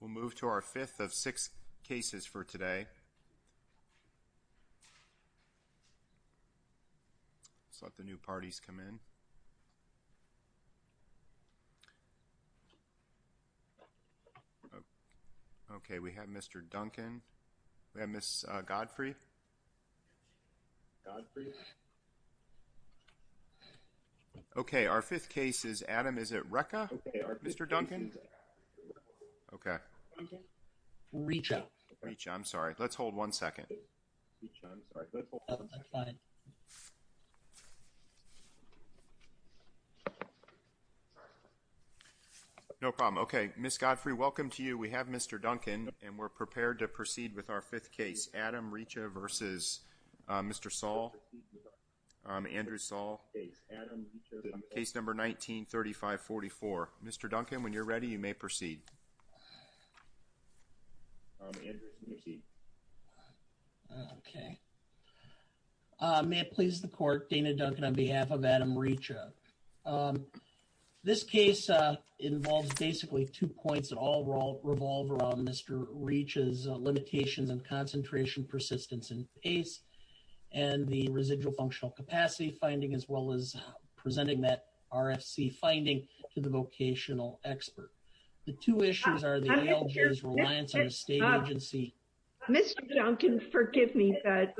We'll move to our fifth of six cases for today. Let's let the new parties come in. Okay, we have Mr. Duncan. We have Miss Godfrey. Okay, our fifth case is Adam. Is Okay, Recha. Recha, I'm sorry. Let's hold one second. No problem. Okay, Miss Godfrey, welcome to you. We have Mr. Duncan and we're prepared to proceed with our fifth case, Adam Recha v. Mr. Saul, Andrew Saul, case number 19-3544. Mr. Duncan, when you're ready, you may proceed. Okay, may it please the court, Dana Duncan on behalf of Adam Recha. This case involves basically two points that all revolve around Mr. Recha's limitations and concentration, persistence, and pace and the residual functional capacity finding as well as presenting that RFC finding to the vocational expert. The two issues are the ALJ's reliance on a state agency... Mr. Duncan, forgive me, but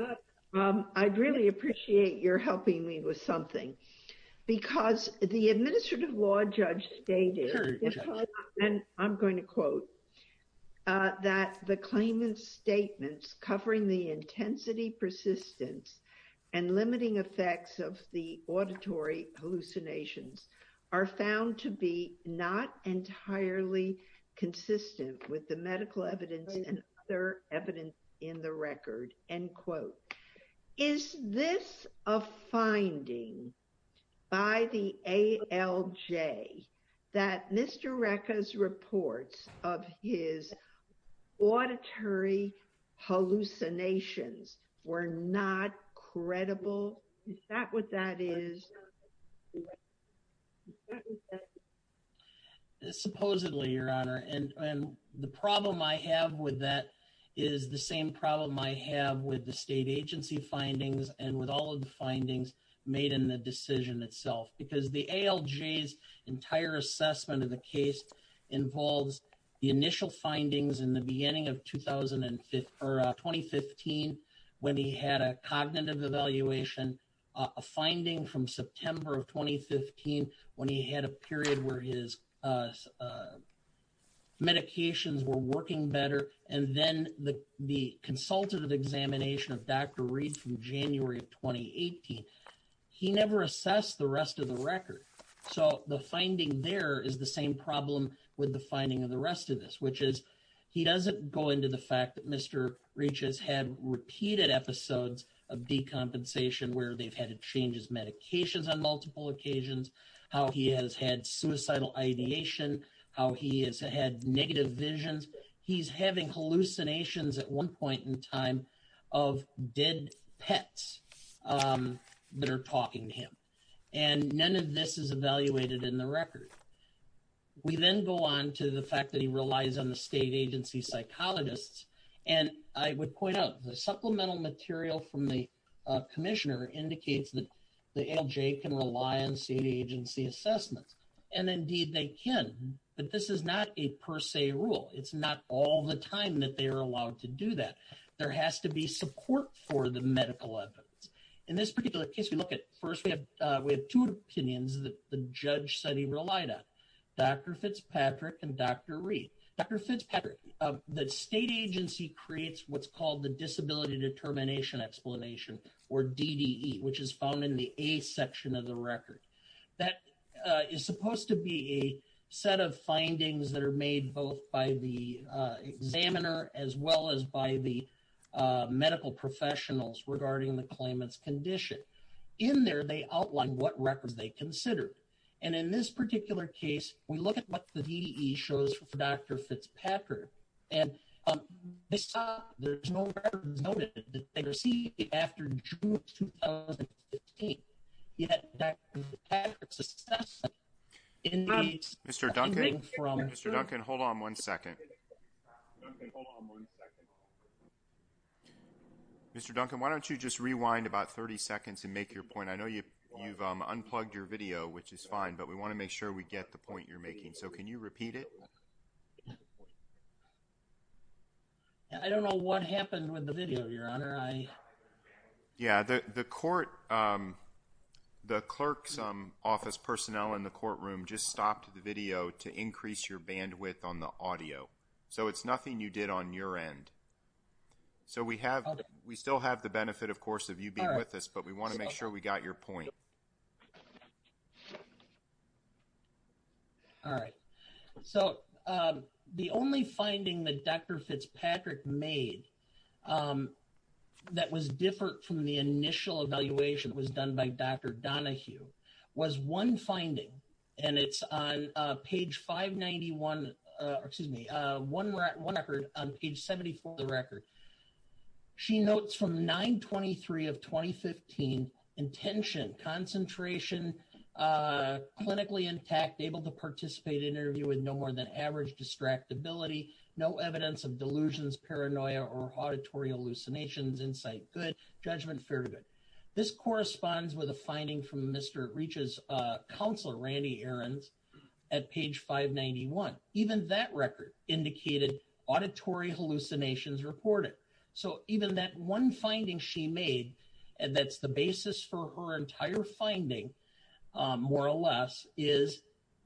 I'd really appreciate your helping me with something because the administrative law judge stated, and I'm going to quote, that the claimant's statements covering the intensity, persistence, and limiting effects of the auditory hallucinations are found to be not entirely consistent with the medical evidence and other evidence in the record, end quote. Is this a finding by the ALJ that Mr. Recha's reports of his auditory hallucinations were not credible? Is that what that is? Supposedly, Your Honor, and the problem I have with that is the same problem I have with the state agency findings and with all of the findings made in the decision itself because the ALJ's entire assessment of the case involves the when he had a cognitive evaluation, a finding from September of 2015 when he had a period where his medications were working better, and then the consultative examination of Dr. Reed from January of 2018. He never assessed the rest of the record, so the finding there is the same problem with the finding of the rest of this, which is he doesn't go into the fact that Mr. Recha's had repeated episodes of decompensation where they've had to change his medications on multiple occasions, how he has had suicidal ideation, how he has had negative visions. He's having hallucinations at one point in time of dead pets that are talking to him, and none of this is evaluated in the record. We then go on to the fact that he relies on the state agency psychologists, and I would point out the supplemental material from the Commissioner indicates that the ALJ can rely on state agency assessments, and indeed they can, but this is not a per se rule. It's not all the time that they are allowed to do that. There has to be support for the medical evidence. In this particular case, we look at first, we have two opinions that the judge said he relied on, Dr. Fitzpatrick and Dr. Reed. Dr. Fitzpatrick, the state agency creates what's called the Disability Determination Explanation, or DDE, which is found in the A section of the record. That is supposed to be a set of findings that are made both by the examiner as well as by the medical professionals regarding the claimant's condition. In there, they outline what records they considered, and in this DDE shows for Dr. Fitzpatrick, and they saw there's no records noted that they received after June of 2015, yet Dr. Fitzpatrick's assessment indicates that something from... Mr. Duncan, Mr. Duncan, hold on one second. Mr. Duncan, why don't you just rewind about 30 seconds and make your point? I know you've unplugged your video, which is fine, but we want to make sure we get the point you're making. So can you repeat it? I don't know what happened with the video, Your Honor. Yeah, the court, the clerk's office personnel in the courtroom just stopped the video to increase your bandwidth on the audio. So it's nothing you did on your end. So we have, we still have the benefit, of course, of you being with us, but we want to make sure we got your point. All right. So the only finding that Dr. Fitzpatrick made that was different from the initial evaluation was done by Dr. Donahue was one finding, and it's on page 591, excuse me, one record on page 74 of the record. She notes from 9-23 of 2015, intention, concentration, clinically intact, able to participate in interview with no more than average distractibility, no evidence of delusions, paranoia, or auditory hallucinations, insight good, judgment fair to good. This corresponds with a finding from Mr. Reach's counselor, Randy Ahrens, at page 591. Even that record indicated auditory hallucinations reported. So even that one finding she made, and that's the basis for her entire finding, more or less, is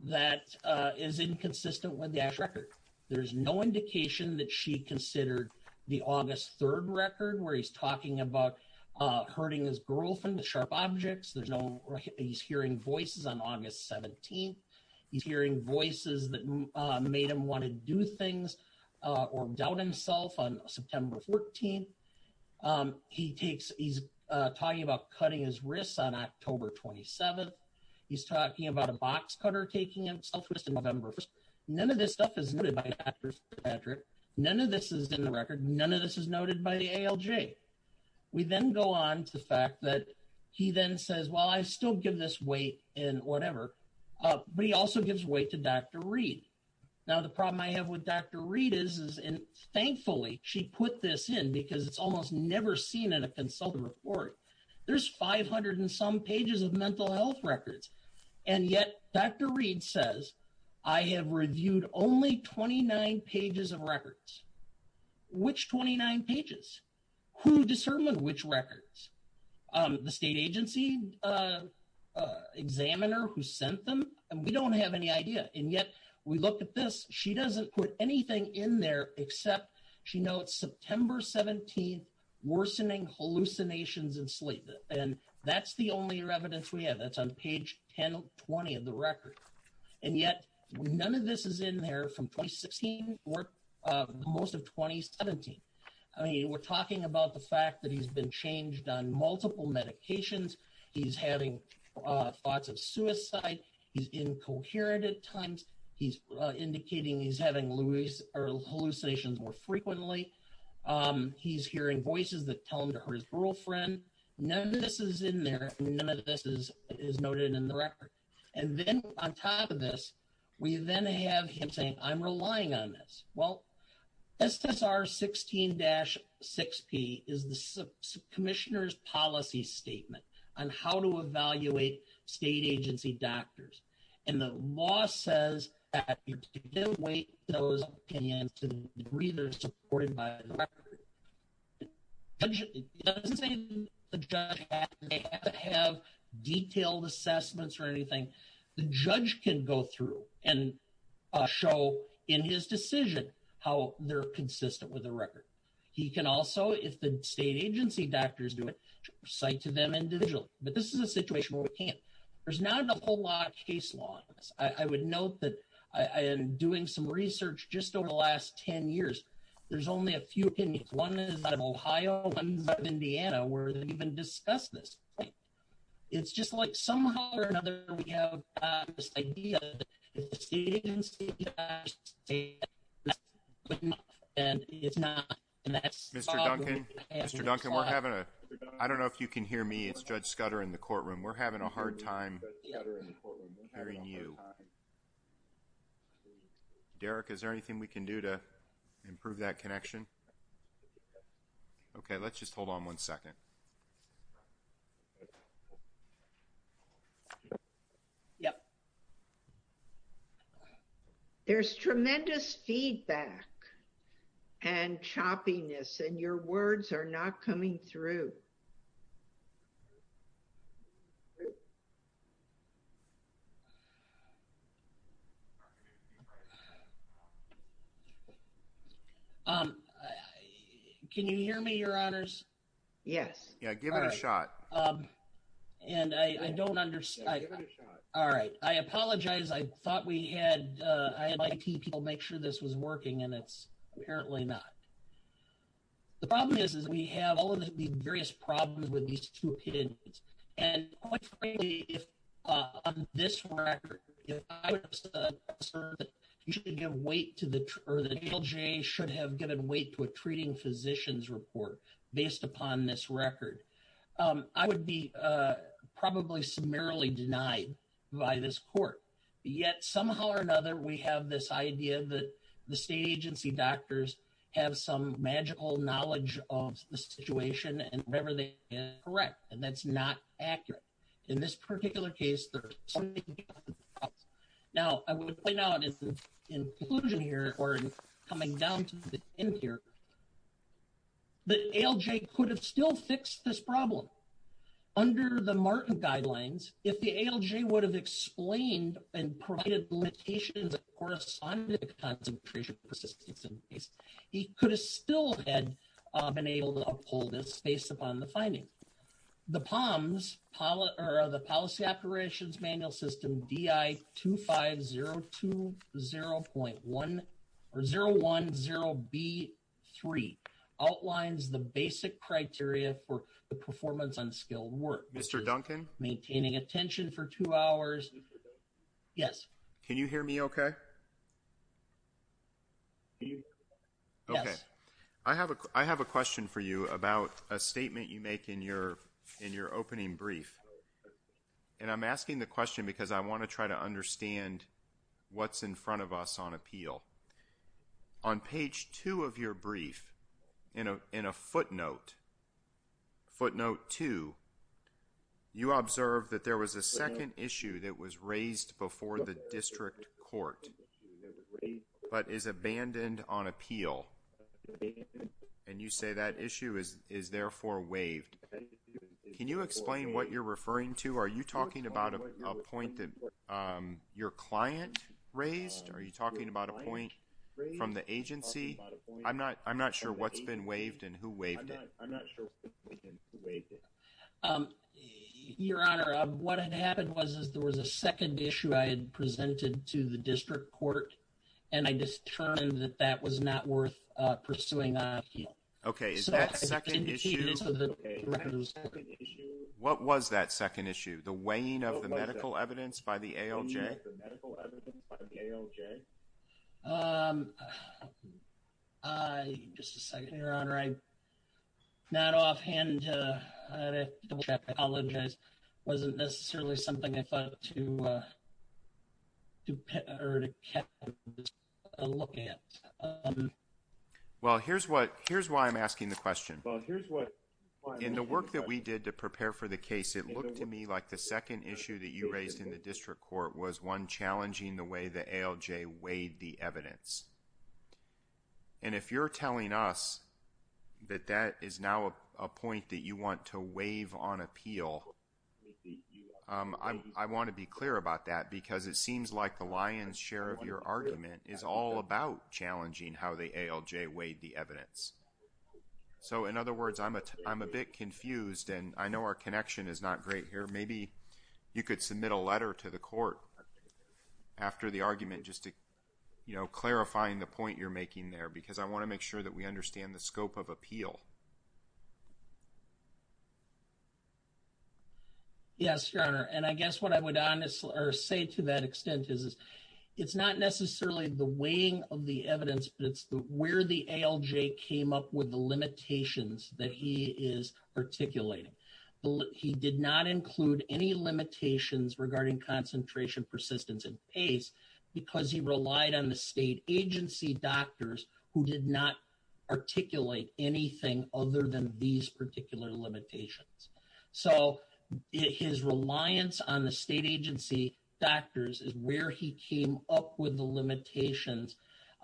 that is inconsistent with the actual record. There's no indication that she considered the August 3rd record, where he's talking about hurting his girlfriend with sharp objects. There's no, he's hearing voices on August 17th. He's hearing voices that made him want to do things or doubt himself on September 14th. He takes, he's talking about cutting his wrists on October 27th. He's talking about a box cutter taking him southwest in November 1st. None of this stuff is noted by Dr. Fitzpatrick. None of this is in the record. None of this is noted by the ALJ. We then go on to the fact that he then says, well, I still give this weight in whatever. But he also gives weight to Dr. Reed. Now, the problem I have with Dr. Reed is, and thankfully, she put this in because it's almost never seen in a consultant report. There's 500 and some pages of mental health records. And yet, Dr. Reed says, I have reviewed only 29 pages of examiner who sent them, and we don't have any idea. And yet, we look at this, she doesn't put anything in there except she notes September 17th, worsening hallucinations and sleep. And that's the only evidence we have. That's on page 1020 of the record. And yet, none of this is in there from 2016, or most of 2017. I mean, we're talking about the fact that he's been changed on thoughts of suicide, he's incoherent at times, he's indicating he's having hallucinations more frequently. He's hearing voices that tell him to hurt his girlfriend. None of this is in there. None of this is noted in the record. And then on top of this, we then have him saying, I'm relying on this. Well, SSR 16-6P is the commissioner's policy statement on how to evaluate state agency doctors. And the law says that you can't wait those opinions to the degree they're supported by the record. It doesn't say the judge has to have detailed assessments or anything. The judge can go through and show in his decision, how they're consistent with the record. He can also, if the state agency doctors do it, cite to them individually. But this is a situation where we can't. There's not a whole lot of case law. I would note that I am doing some research just over the last 10 years. There's only a few opinions. One is out of Ohio, one is out of Indiana, where they even discuss this. It's just like somehow or another, we have this idea that the state agency doctors say that's good enough, and it's not. And that's all we have in this trial. Mr. Duncan, I don't know if you can hear me. It's Judge Scudder in the courtroom. We're having a hard time hearing you. Derek, is there anything we can do to improve that connection? Okay, let's just hold on one second. There's tremendous feedback and choppiness, and your words are not coming through. Can you hear me, your honors? Yes. Yeah, give it a shot. And I don't understand. Give it a shot. All right. I apologize. I thought I had my key people make sure this was working, and it's apparently not. The problem is, we have all of the various problems with these two opinions. And quite frankly, on this record, if I was concerned that the NLJ should have given weight to a treating physician's report based upon this record, I would be probably summarily denied by this court. Yet somehow or another, we have this idea that the state agency doctors have some magical knowledge of the situation, and whenever they get it correct, and that's not accurate. In this particular case, now, I would point out in conclusion here, or coming down to the end here, the ALJ could have still fixed this problem. Under the Martin guidelines, if the ALJ would have explained and provided limitations of corresponding concentration persistence, he could have still had been able to uphold this based upon the findings. The POMS, or the Policy Operations Manual System, DI-25020.1, or 010B3, outlines the basic criteria for the performance on skilled work. Mr. Duncan? Maintaining attention for two hours. Yes. Can you hear me okay? Yes. Okay. I have a question for you about a statement you make in your opening brief, and I'm asking the question because I want to try to understand what's in front of us on appeal. On page two of your brief, in a footnote, footnote two, you observe that there was a second issue that was raised before the district court, but is abandoned on appeal, and you say that issue is therefore waived. Can you explain what you're referring to? Are you talking about a point that your client raised? Are you talking about a point from the agency? I'm not sure what's been waived and who waived it. I'm not sure who waived it. Your Honor, what had happened was that there was a second issue I had presented to the district court, and I just determined that that was not worth pursuing on appeal. Okay. Is that second issue? What was that second issue? The weighing of the medical evidence by the ALJ? The weighing of the medical evidence by the ALJ? Just a second, Your Honor. I'm not offhand. I apologize. It wasn't necessarily something I thought to look at. Well, here's why I'm asking the question. In the work that we did to prepare for the case, it looked to me like the second issue that you raised in the district court was one challenging the way the ALJ weighed the evidence, and if you're telling us that that is now a point that you want to waive on appeal, I want to be clear about that because it seems like the lion's share of your argument is all about challenging how the ALJ weighed the evidence. I think that connection is not great here. Maybe you could submit a letter to the court after the argument just to clarify the point you're making there, because I want to make sure that we understand the scope of appeal. Yes, Your Honor, and I guess what I would honestly say to that extent is it's not necessarily the weighing of the evidence, but it's where the ALJ came up with the limitations that he is articulating. He did not include any limitations regarding concentration, persistence, and pace because he relied on the state agency doctors who did not articulate anything other than these particular limitations. So, his reliance on the state agency doctors is where he came up with the limitations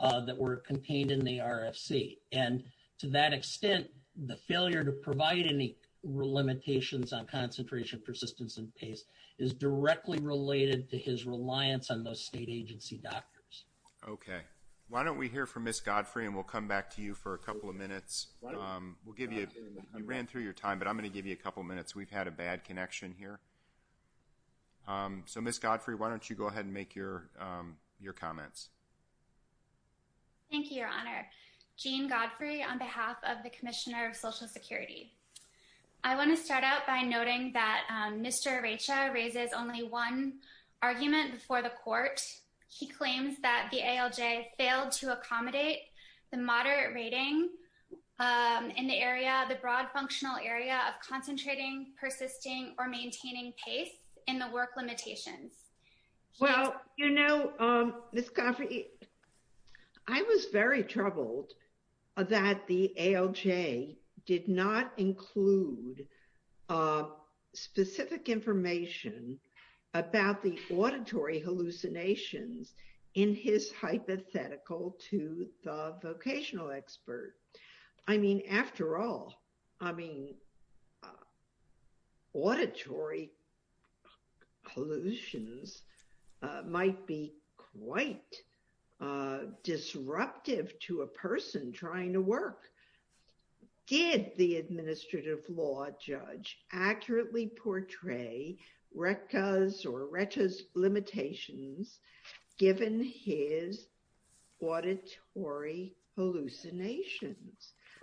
that were contained in the RFC, and to that extent, the failure to provide any limitations on concentration, persistence, and pace is directly related to his reliance on those state agency doctors. Okay. Why don't we hear from Ms. Godfrey, and we'll come back to you for a couple of minutes. You ran through your time, but I'm going to give you a couple minutes. We've had a bad connection here. So, Ms. Godfrey, why don't you go ahead and make your comments? Thank you, Your Honor. Jean Godfrey on behalf of the Commissioner of Social Security. I want to start out by noting that Mr. Recha raises only one argument before the court. He claims that the ALJ failed to accommodate the moderate rating in the area, the broad functional area of concentrating, persisting, or maintaining pace in the work limitations. Well, you know, Ms. Godfrey, I was very troubled that the ALJ did not include specific information about the auditory hallucinations in his hypothetical to the limitations.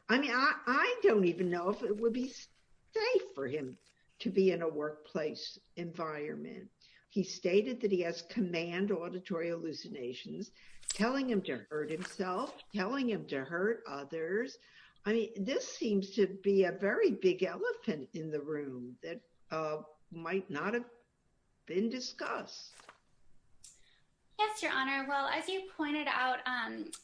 I mean, I don't even know if it would be safe for him to be in a workplace environment. He stated that he has command auditory hallucinations, telling him to hurt himself, telling him to hurt others. I mean, this seems to be a very big elephant in the room that might not have been discussed. Yes, Your Honor. Well, as you pointed out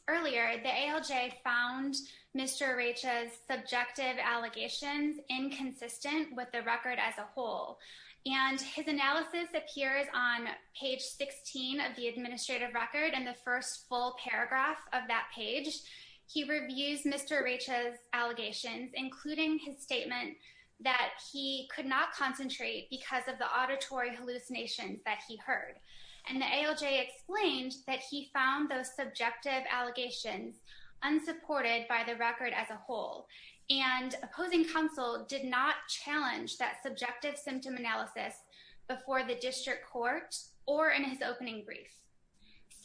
earlier, the ALJ found Mr. Recha's subjective allegations inconsistent with the record as a whole. And his analysis appears on page 16 of the administrative record. And the first full paragraph of that page, he reviews Mr. Recha's allegations, including his statement that he could not concentrate because of the auditory hallucinations that he heard. And the ALJ explained that he found those subjective allegations unsupported by the record as a whole. And opposing counsel did not challenge that subjective symptom analysis before the district court or in his opening brief.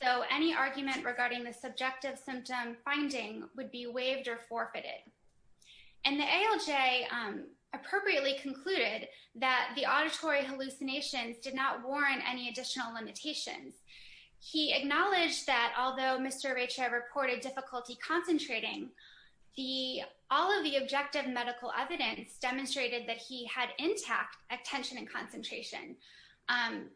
So any argument regarding the subjective symptom finding would be waived or forfeited. And the ALJ appropriately concluded that the auditory hallucinations did not warrant any additional limitations. He acknowledged that although Mr. Recha reported difficulty concentrating, all of the objective medical evidence demonstrated that he had intact attention and concentration.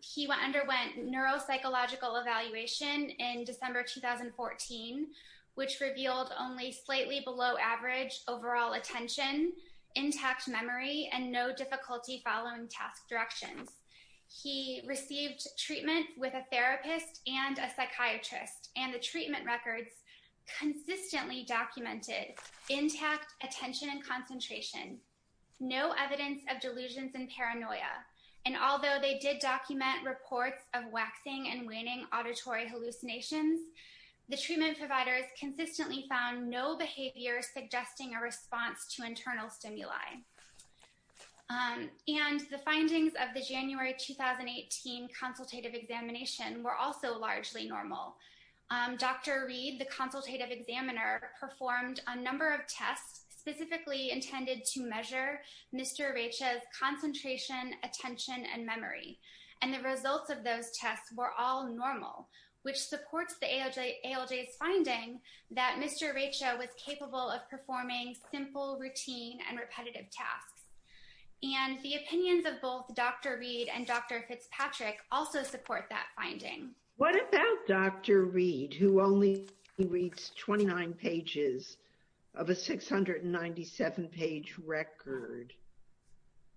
He underwent neuropsychological evaluation in December 2014, which revealed only slightly below average overall attention, intact memory, and no difficulty following task directions. He received treatment with a therapist and a psychiatrist. And the treatment records consistently documented intact attention and concentration, no evidence of delusions and paranoia. And although they did document reports of waxing and waning auditory hallucinations, the treatment providers consistently found no behavior suggesting a response to internal stimuli. And the findings of the January 2018 consultative examination were also largely normal. Dr. Reed, the consultative examiner, performed a number of tests specifically intended to measure Mr. Recha's concentration, attention, and memory. And the results of those tests were all normal, which supports the ALJ's finding that Mr. Recha was capable of performing simple routine and tasks. And the opinions of both Dr. Reed and Dr. Fitzpatrick also support that finding. What about Dr. Reed, who only reads 29 pages of a 697-page record?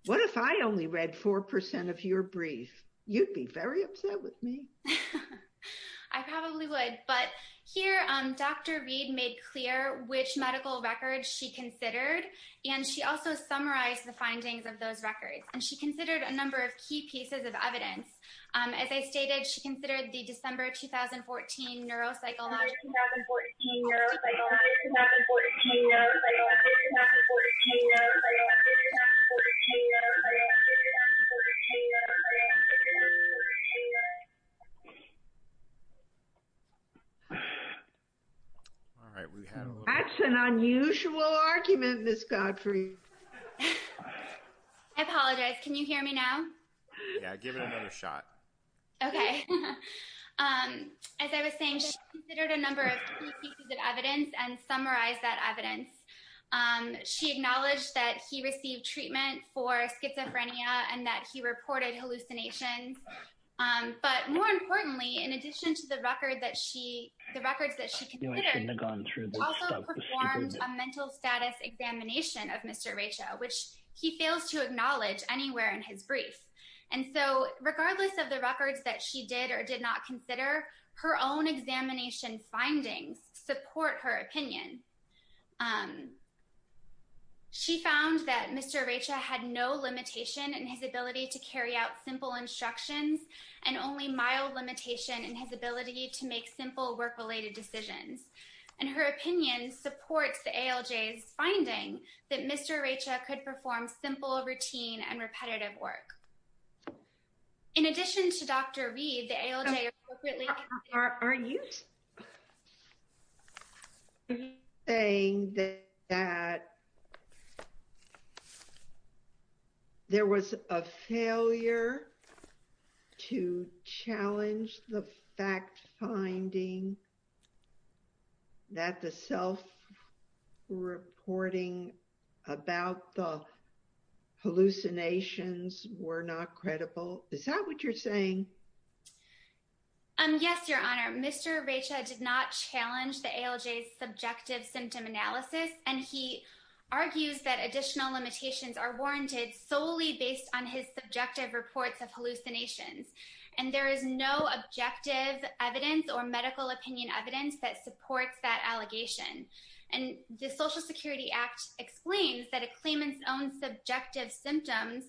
What if I only read 4% of your brief? You'd be very upset with me. I probably would. But here, Dr. Reed made clear which medical records she considered, and she also summarized the findings of those records. And she considered a number of key pieces of evidence. As I stated, she considered the December 2014 neuropsychological study. That's an unusual argument, Ms. Godfrey. I apologize. Can you hear me now? Yeah, give it another shot. Okay. As I was saying, she considered a number of key pieces of evidence and summarized that evidence. She acknowledged that he received treatment for schizophrenia and that he was a narcissist. But more importantly, in addition to the records that she considered, she also performed a mental status examination of Mr. Recha, which he fails to acknowledge anywhere in his brief. And so regardless of the records that she did or did not consider, her own examination findings support her opinion. She found that Mr. Recha had no limitation in his ability to make simple work-related decisions. And her opinion supports the ALJ's finding that Mr. Recha could perform simple routine and repetitive work. In addition to Dr. Reed, the ALJ... Are you saying that there was a failure to challenge the fact-finding that the self-reporting about the hallucinations were not credible? Is that what you're saying? Um, yes, Your Honor. Mr. Recha did not challenge the ALJ's subjective symptom analysis, and he argues that additional limitations are warranted solely based on his subjective reports of hallucinations. And there is no objective evidence or medical opinion evidence that supports that allegation. And the Social Security Act explains that a claimant's own subjective symptoms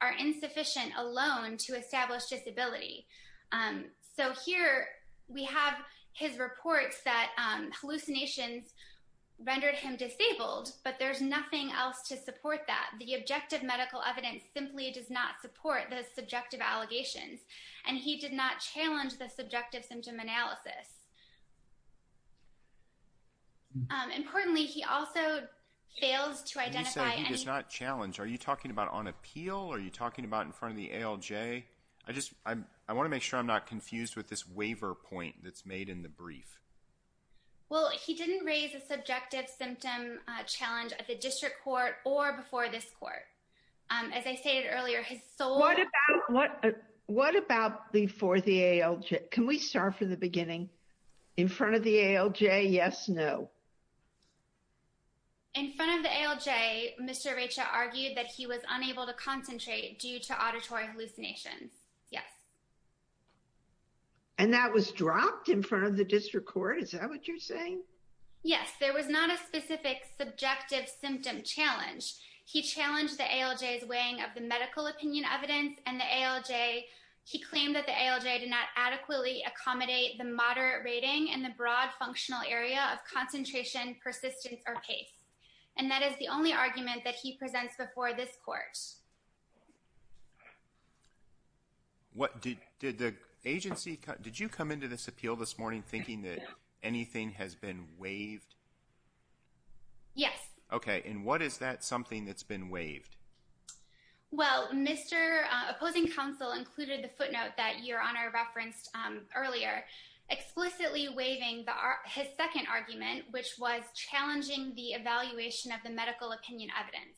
are insufficient alone to establish disability. So here we have his reports that hallucinations rendered him disabled, but there's nothing else to support that. The objective medical evidence simply does not support those subjective allegations, and he did not challenge the subjective symptom analysis. Importantly, he also fails to identify... And you said he does not challenge. Are you talking about on appeal? Are you talking about in front of the ALJ? I just... I want to make sure I'm not confused with this waiver point that's made in the brief. Well, he didn't raise a subjective symptom challenge at the district court or before this court. As I stated earlier, his sole... What about before the ALJ? Can we start from the beginning? In front of the ALJ, yes, no. In front of the ALJ, Mr. Recha argued that he was unable to concentrate due to auditory hallucinations. Yes. And that was dropped in front of the district court? Is that what you're saying? Yes. There was not a specific subjective symptom challenge. He challenged the ALJ's weighing of the medical opinion evidence and the ALJ... He claimed that the ALJ did not adequately accommodate the moderate rating and the broad functional area of concentration, persistence, or pace. And that is the only argument that he presents before this court. What... Did the agency... Did you come into this appeal this morning thinking that anything has been waived? Yes. Okay. And what is that something that's been waived? Well, Mr. Opposing Counsel included the footnote that Your Honor referenced earlier, explicitly waiving his second argument, which was challenging the evaluation of the medical opinion evidence.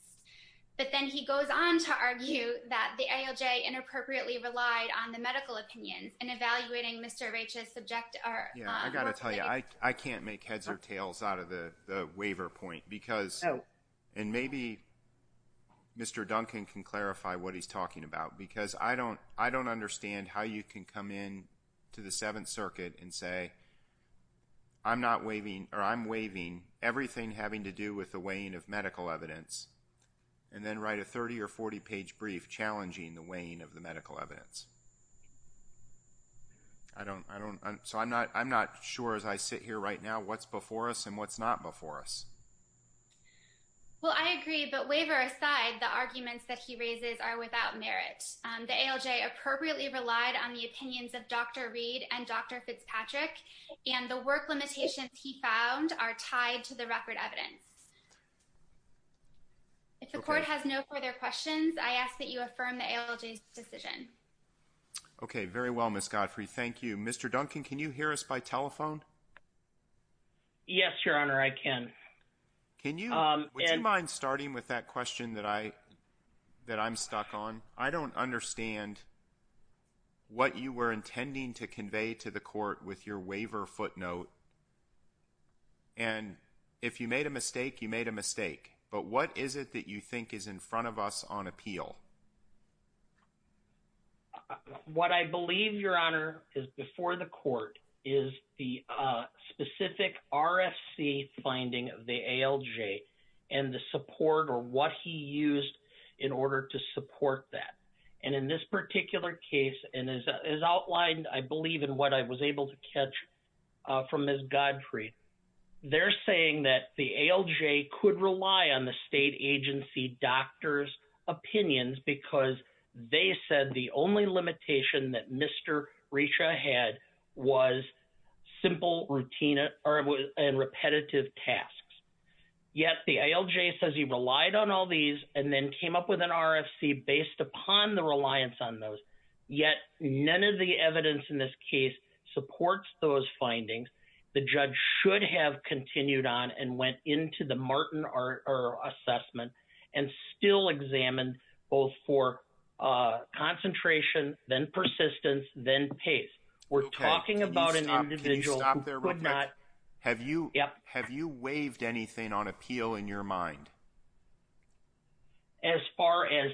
But then he goes on to argue that the ALJ inappropriately relied on the medical opinions and evaluating Mr. Recha's subjective... Yeah, I got to tell you, I can't make heads or tails out of the waiver point, because... Oh. And maybe Mr. Duncan can clarify what he's talking about, because I don't understand how you can come in to the Seventh Circuit and say, I'm not waiving, or I'm waiving everything having to do with the weighing of medical evidence, and then write a 30 or 40 page brief challenging the weighing of the medical evidence. I don't... So I'm not sure as I sit here right now what's before us and what's not before us. Well, I agree, but waiver aside, the arguments that he raises are without merit. The ALJ appropriately relied on the opinions of Dr. Reed and Dr. Fitzpatrick, and the work limitations he found are tied to the record evidence. If the court has no further questions, I ask that you affirm the ALJ's decision. Okay. Very well, Ms. Godfrey. Thank you. Mr. Duncan, can you hear us by telephone? Yes, Your Honor, I can. Can you... Would you mind starting with that question that I'm stuck on? I don't understand what you were intending to convey to the court with your waiver footnote, and if you made a mistake, you made a mistake. But what is it that you think is in front of us on appeal? What I believe, Your Honor, is before the court is the specific RFC finding of the ALJ and the support or what he used in order to support that. And in this particular case, and as outlined, I believe in what I was able to catch from Ms. Godfrey, they're saying that the ALJ could rely on the state agency doctor's opinions because they said the only limitation that Mr. Richa had was simple routine and repetitive tasks. Yet the ALJ says he relied on all these and then came up with an RFC based upon the reliance on those, yet none of the evidence in this case supports those still examined both for concentration, then persistence, then pace. We're talking about an individual who could not... Can you stop there real quick? Have you waived anything on appeal in your mind? As far as...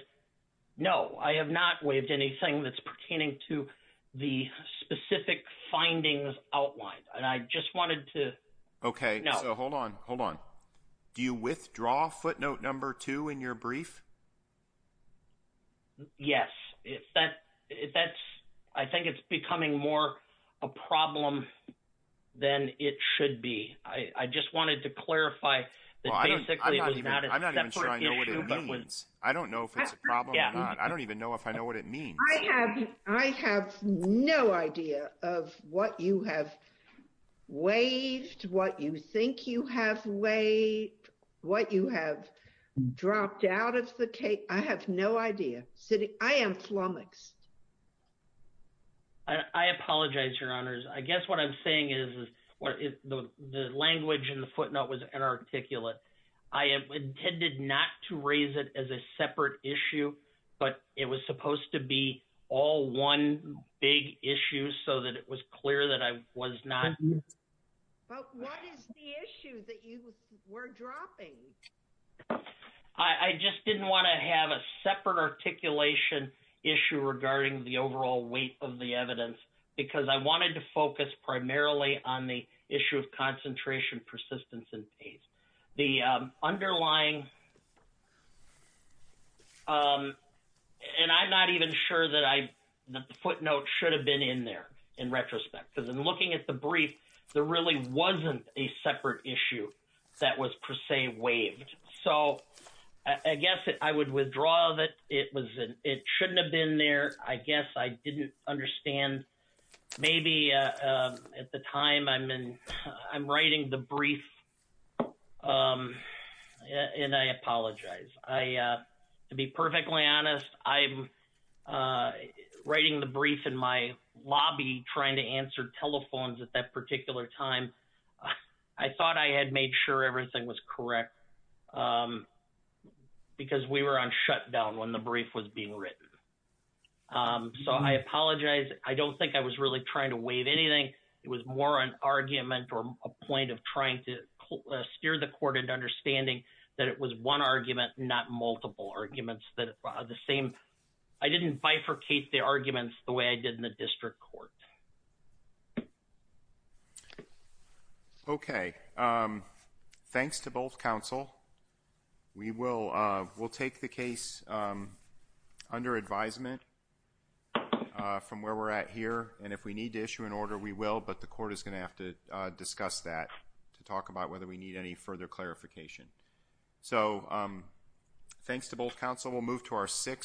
No, I have not waived anything that's pertaining to the specific findings outlined. And I just wanted to... Okay, so hold on, hold on. Do you withdraw footnote number two in your brief? Yes. I think it's becoming more a problem than it should be. I just wanted to clarify that basically it was not a separate issue. I'm not even sure I know what it means. I don't know if it's a problem or not. I don't even know if I know what it means. I have no idea of what you have waived, what you think you have waived, what you have dropped out of the case. I have no idea. I am flummoxed. I apologize, your honors. I guess what I'm saying is the language in the footnote was a separate issue, but it was supposed to be all one big issue so that it was clear that I was not. But what is the issue that you were dropping? I just didn't want to have a separate articulation issue regarding the overall weight of the evidence because I wanted to focus primarily on the issue of concentration, persistence, and pace. The underlying... And I'm not even sure that the footnote should have been in there in retrospect because in looking at the brief, there really wasn't a separate issue that was per se waived. So I guess I would withdraw that it shouldn't have been there. I guess I didn't understand. Maybe at the time I'm writing the brief and I apologize. To be perfectly honest, I'm writing the brief in my lobby trying to answer telephones at that particular time. I thought I had made sure everything was correct because we were on shutdown when the brief was being written. So I apologize. I don't think I was really trying to waive anything. It was more an argument or a point of trying to steer the court into understanding that it was one argument, not multiple arguments. I didn't bifurcate the arguments the way I did in the district court. Okay. Thanks to both counsel. We'll take the case under advisement from where we're at here. And if we need to issue an order, we will. But the court is going to have to discuss that to talk about whether we need any further clarification. So thanks to both counsel. We'll move to our sixth.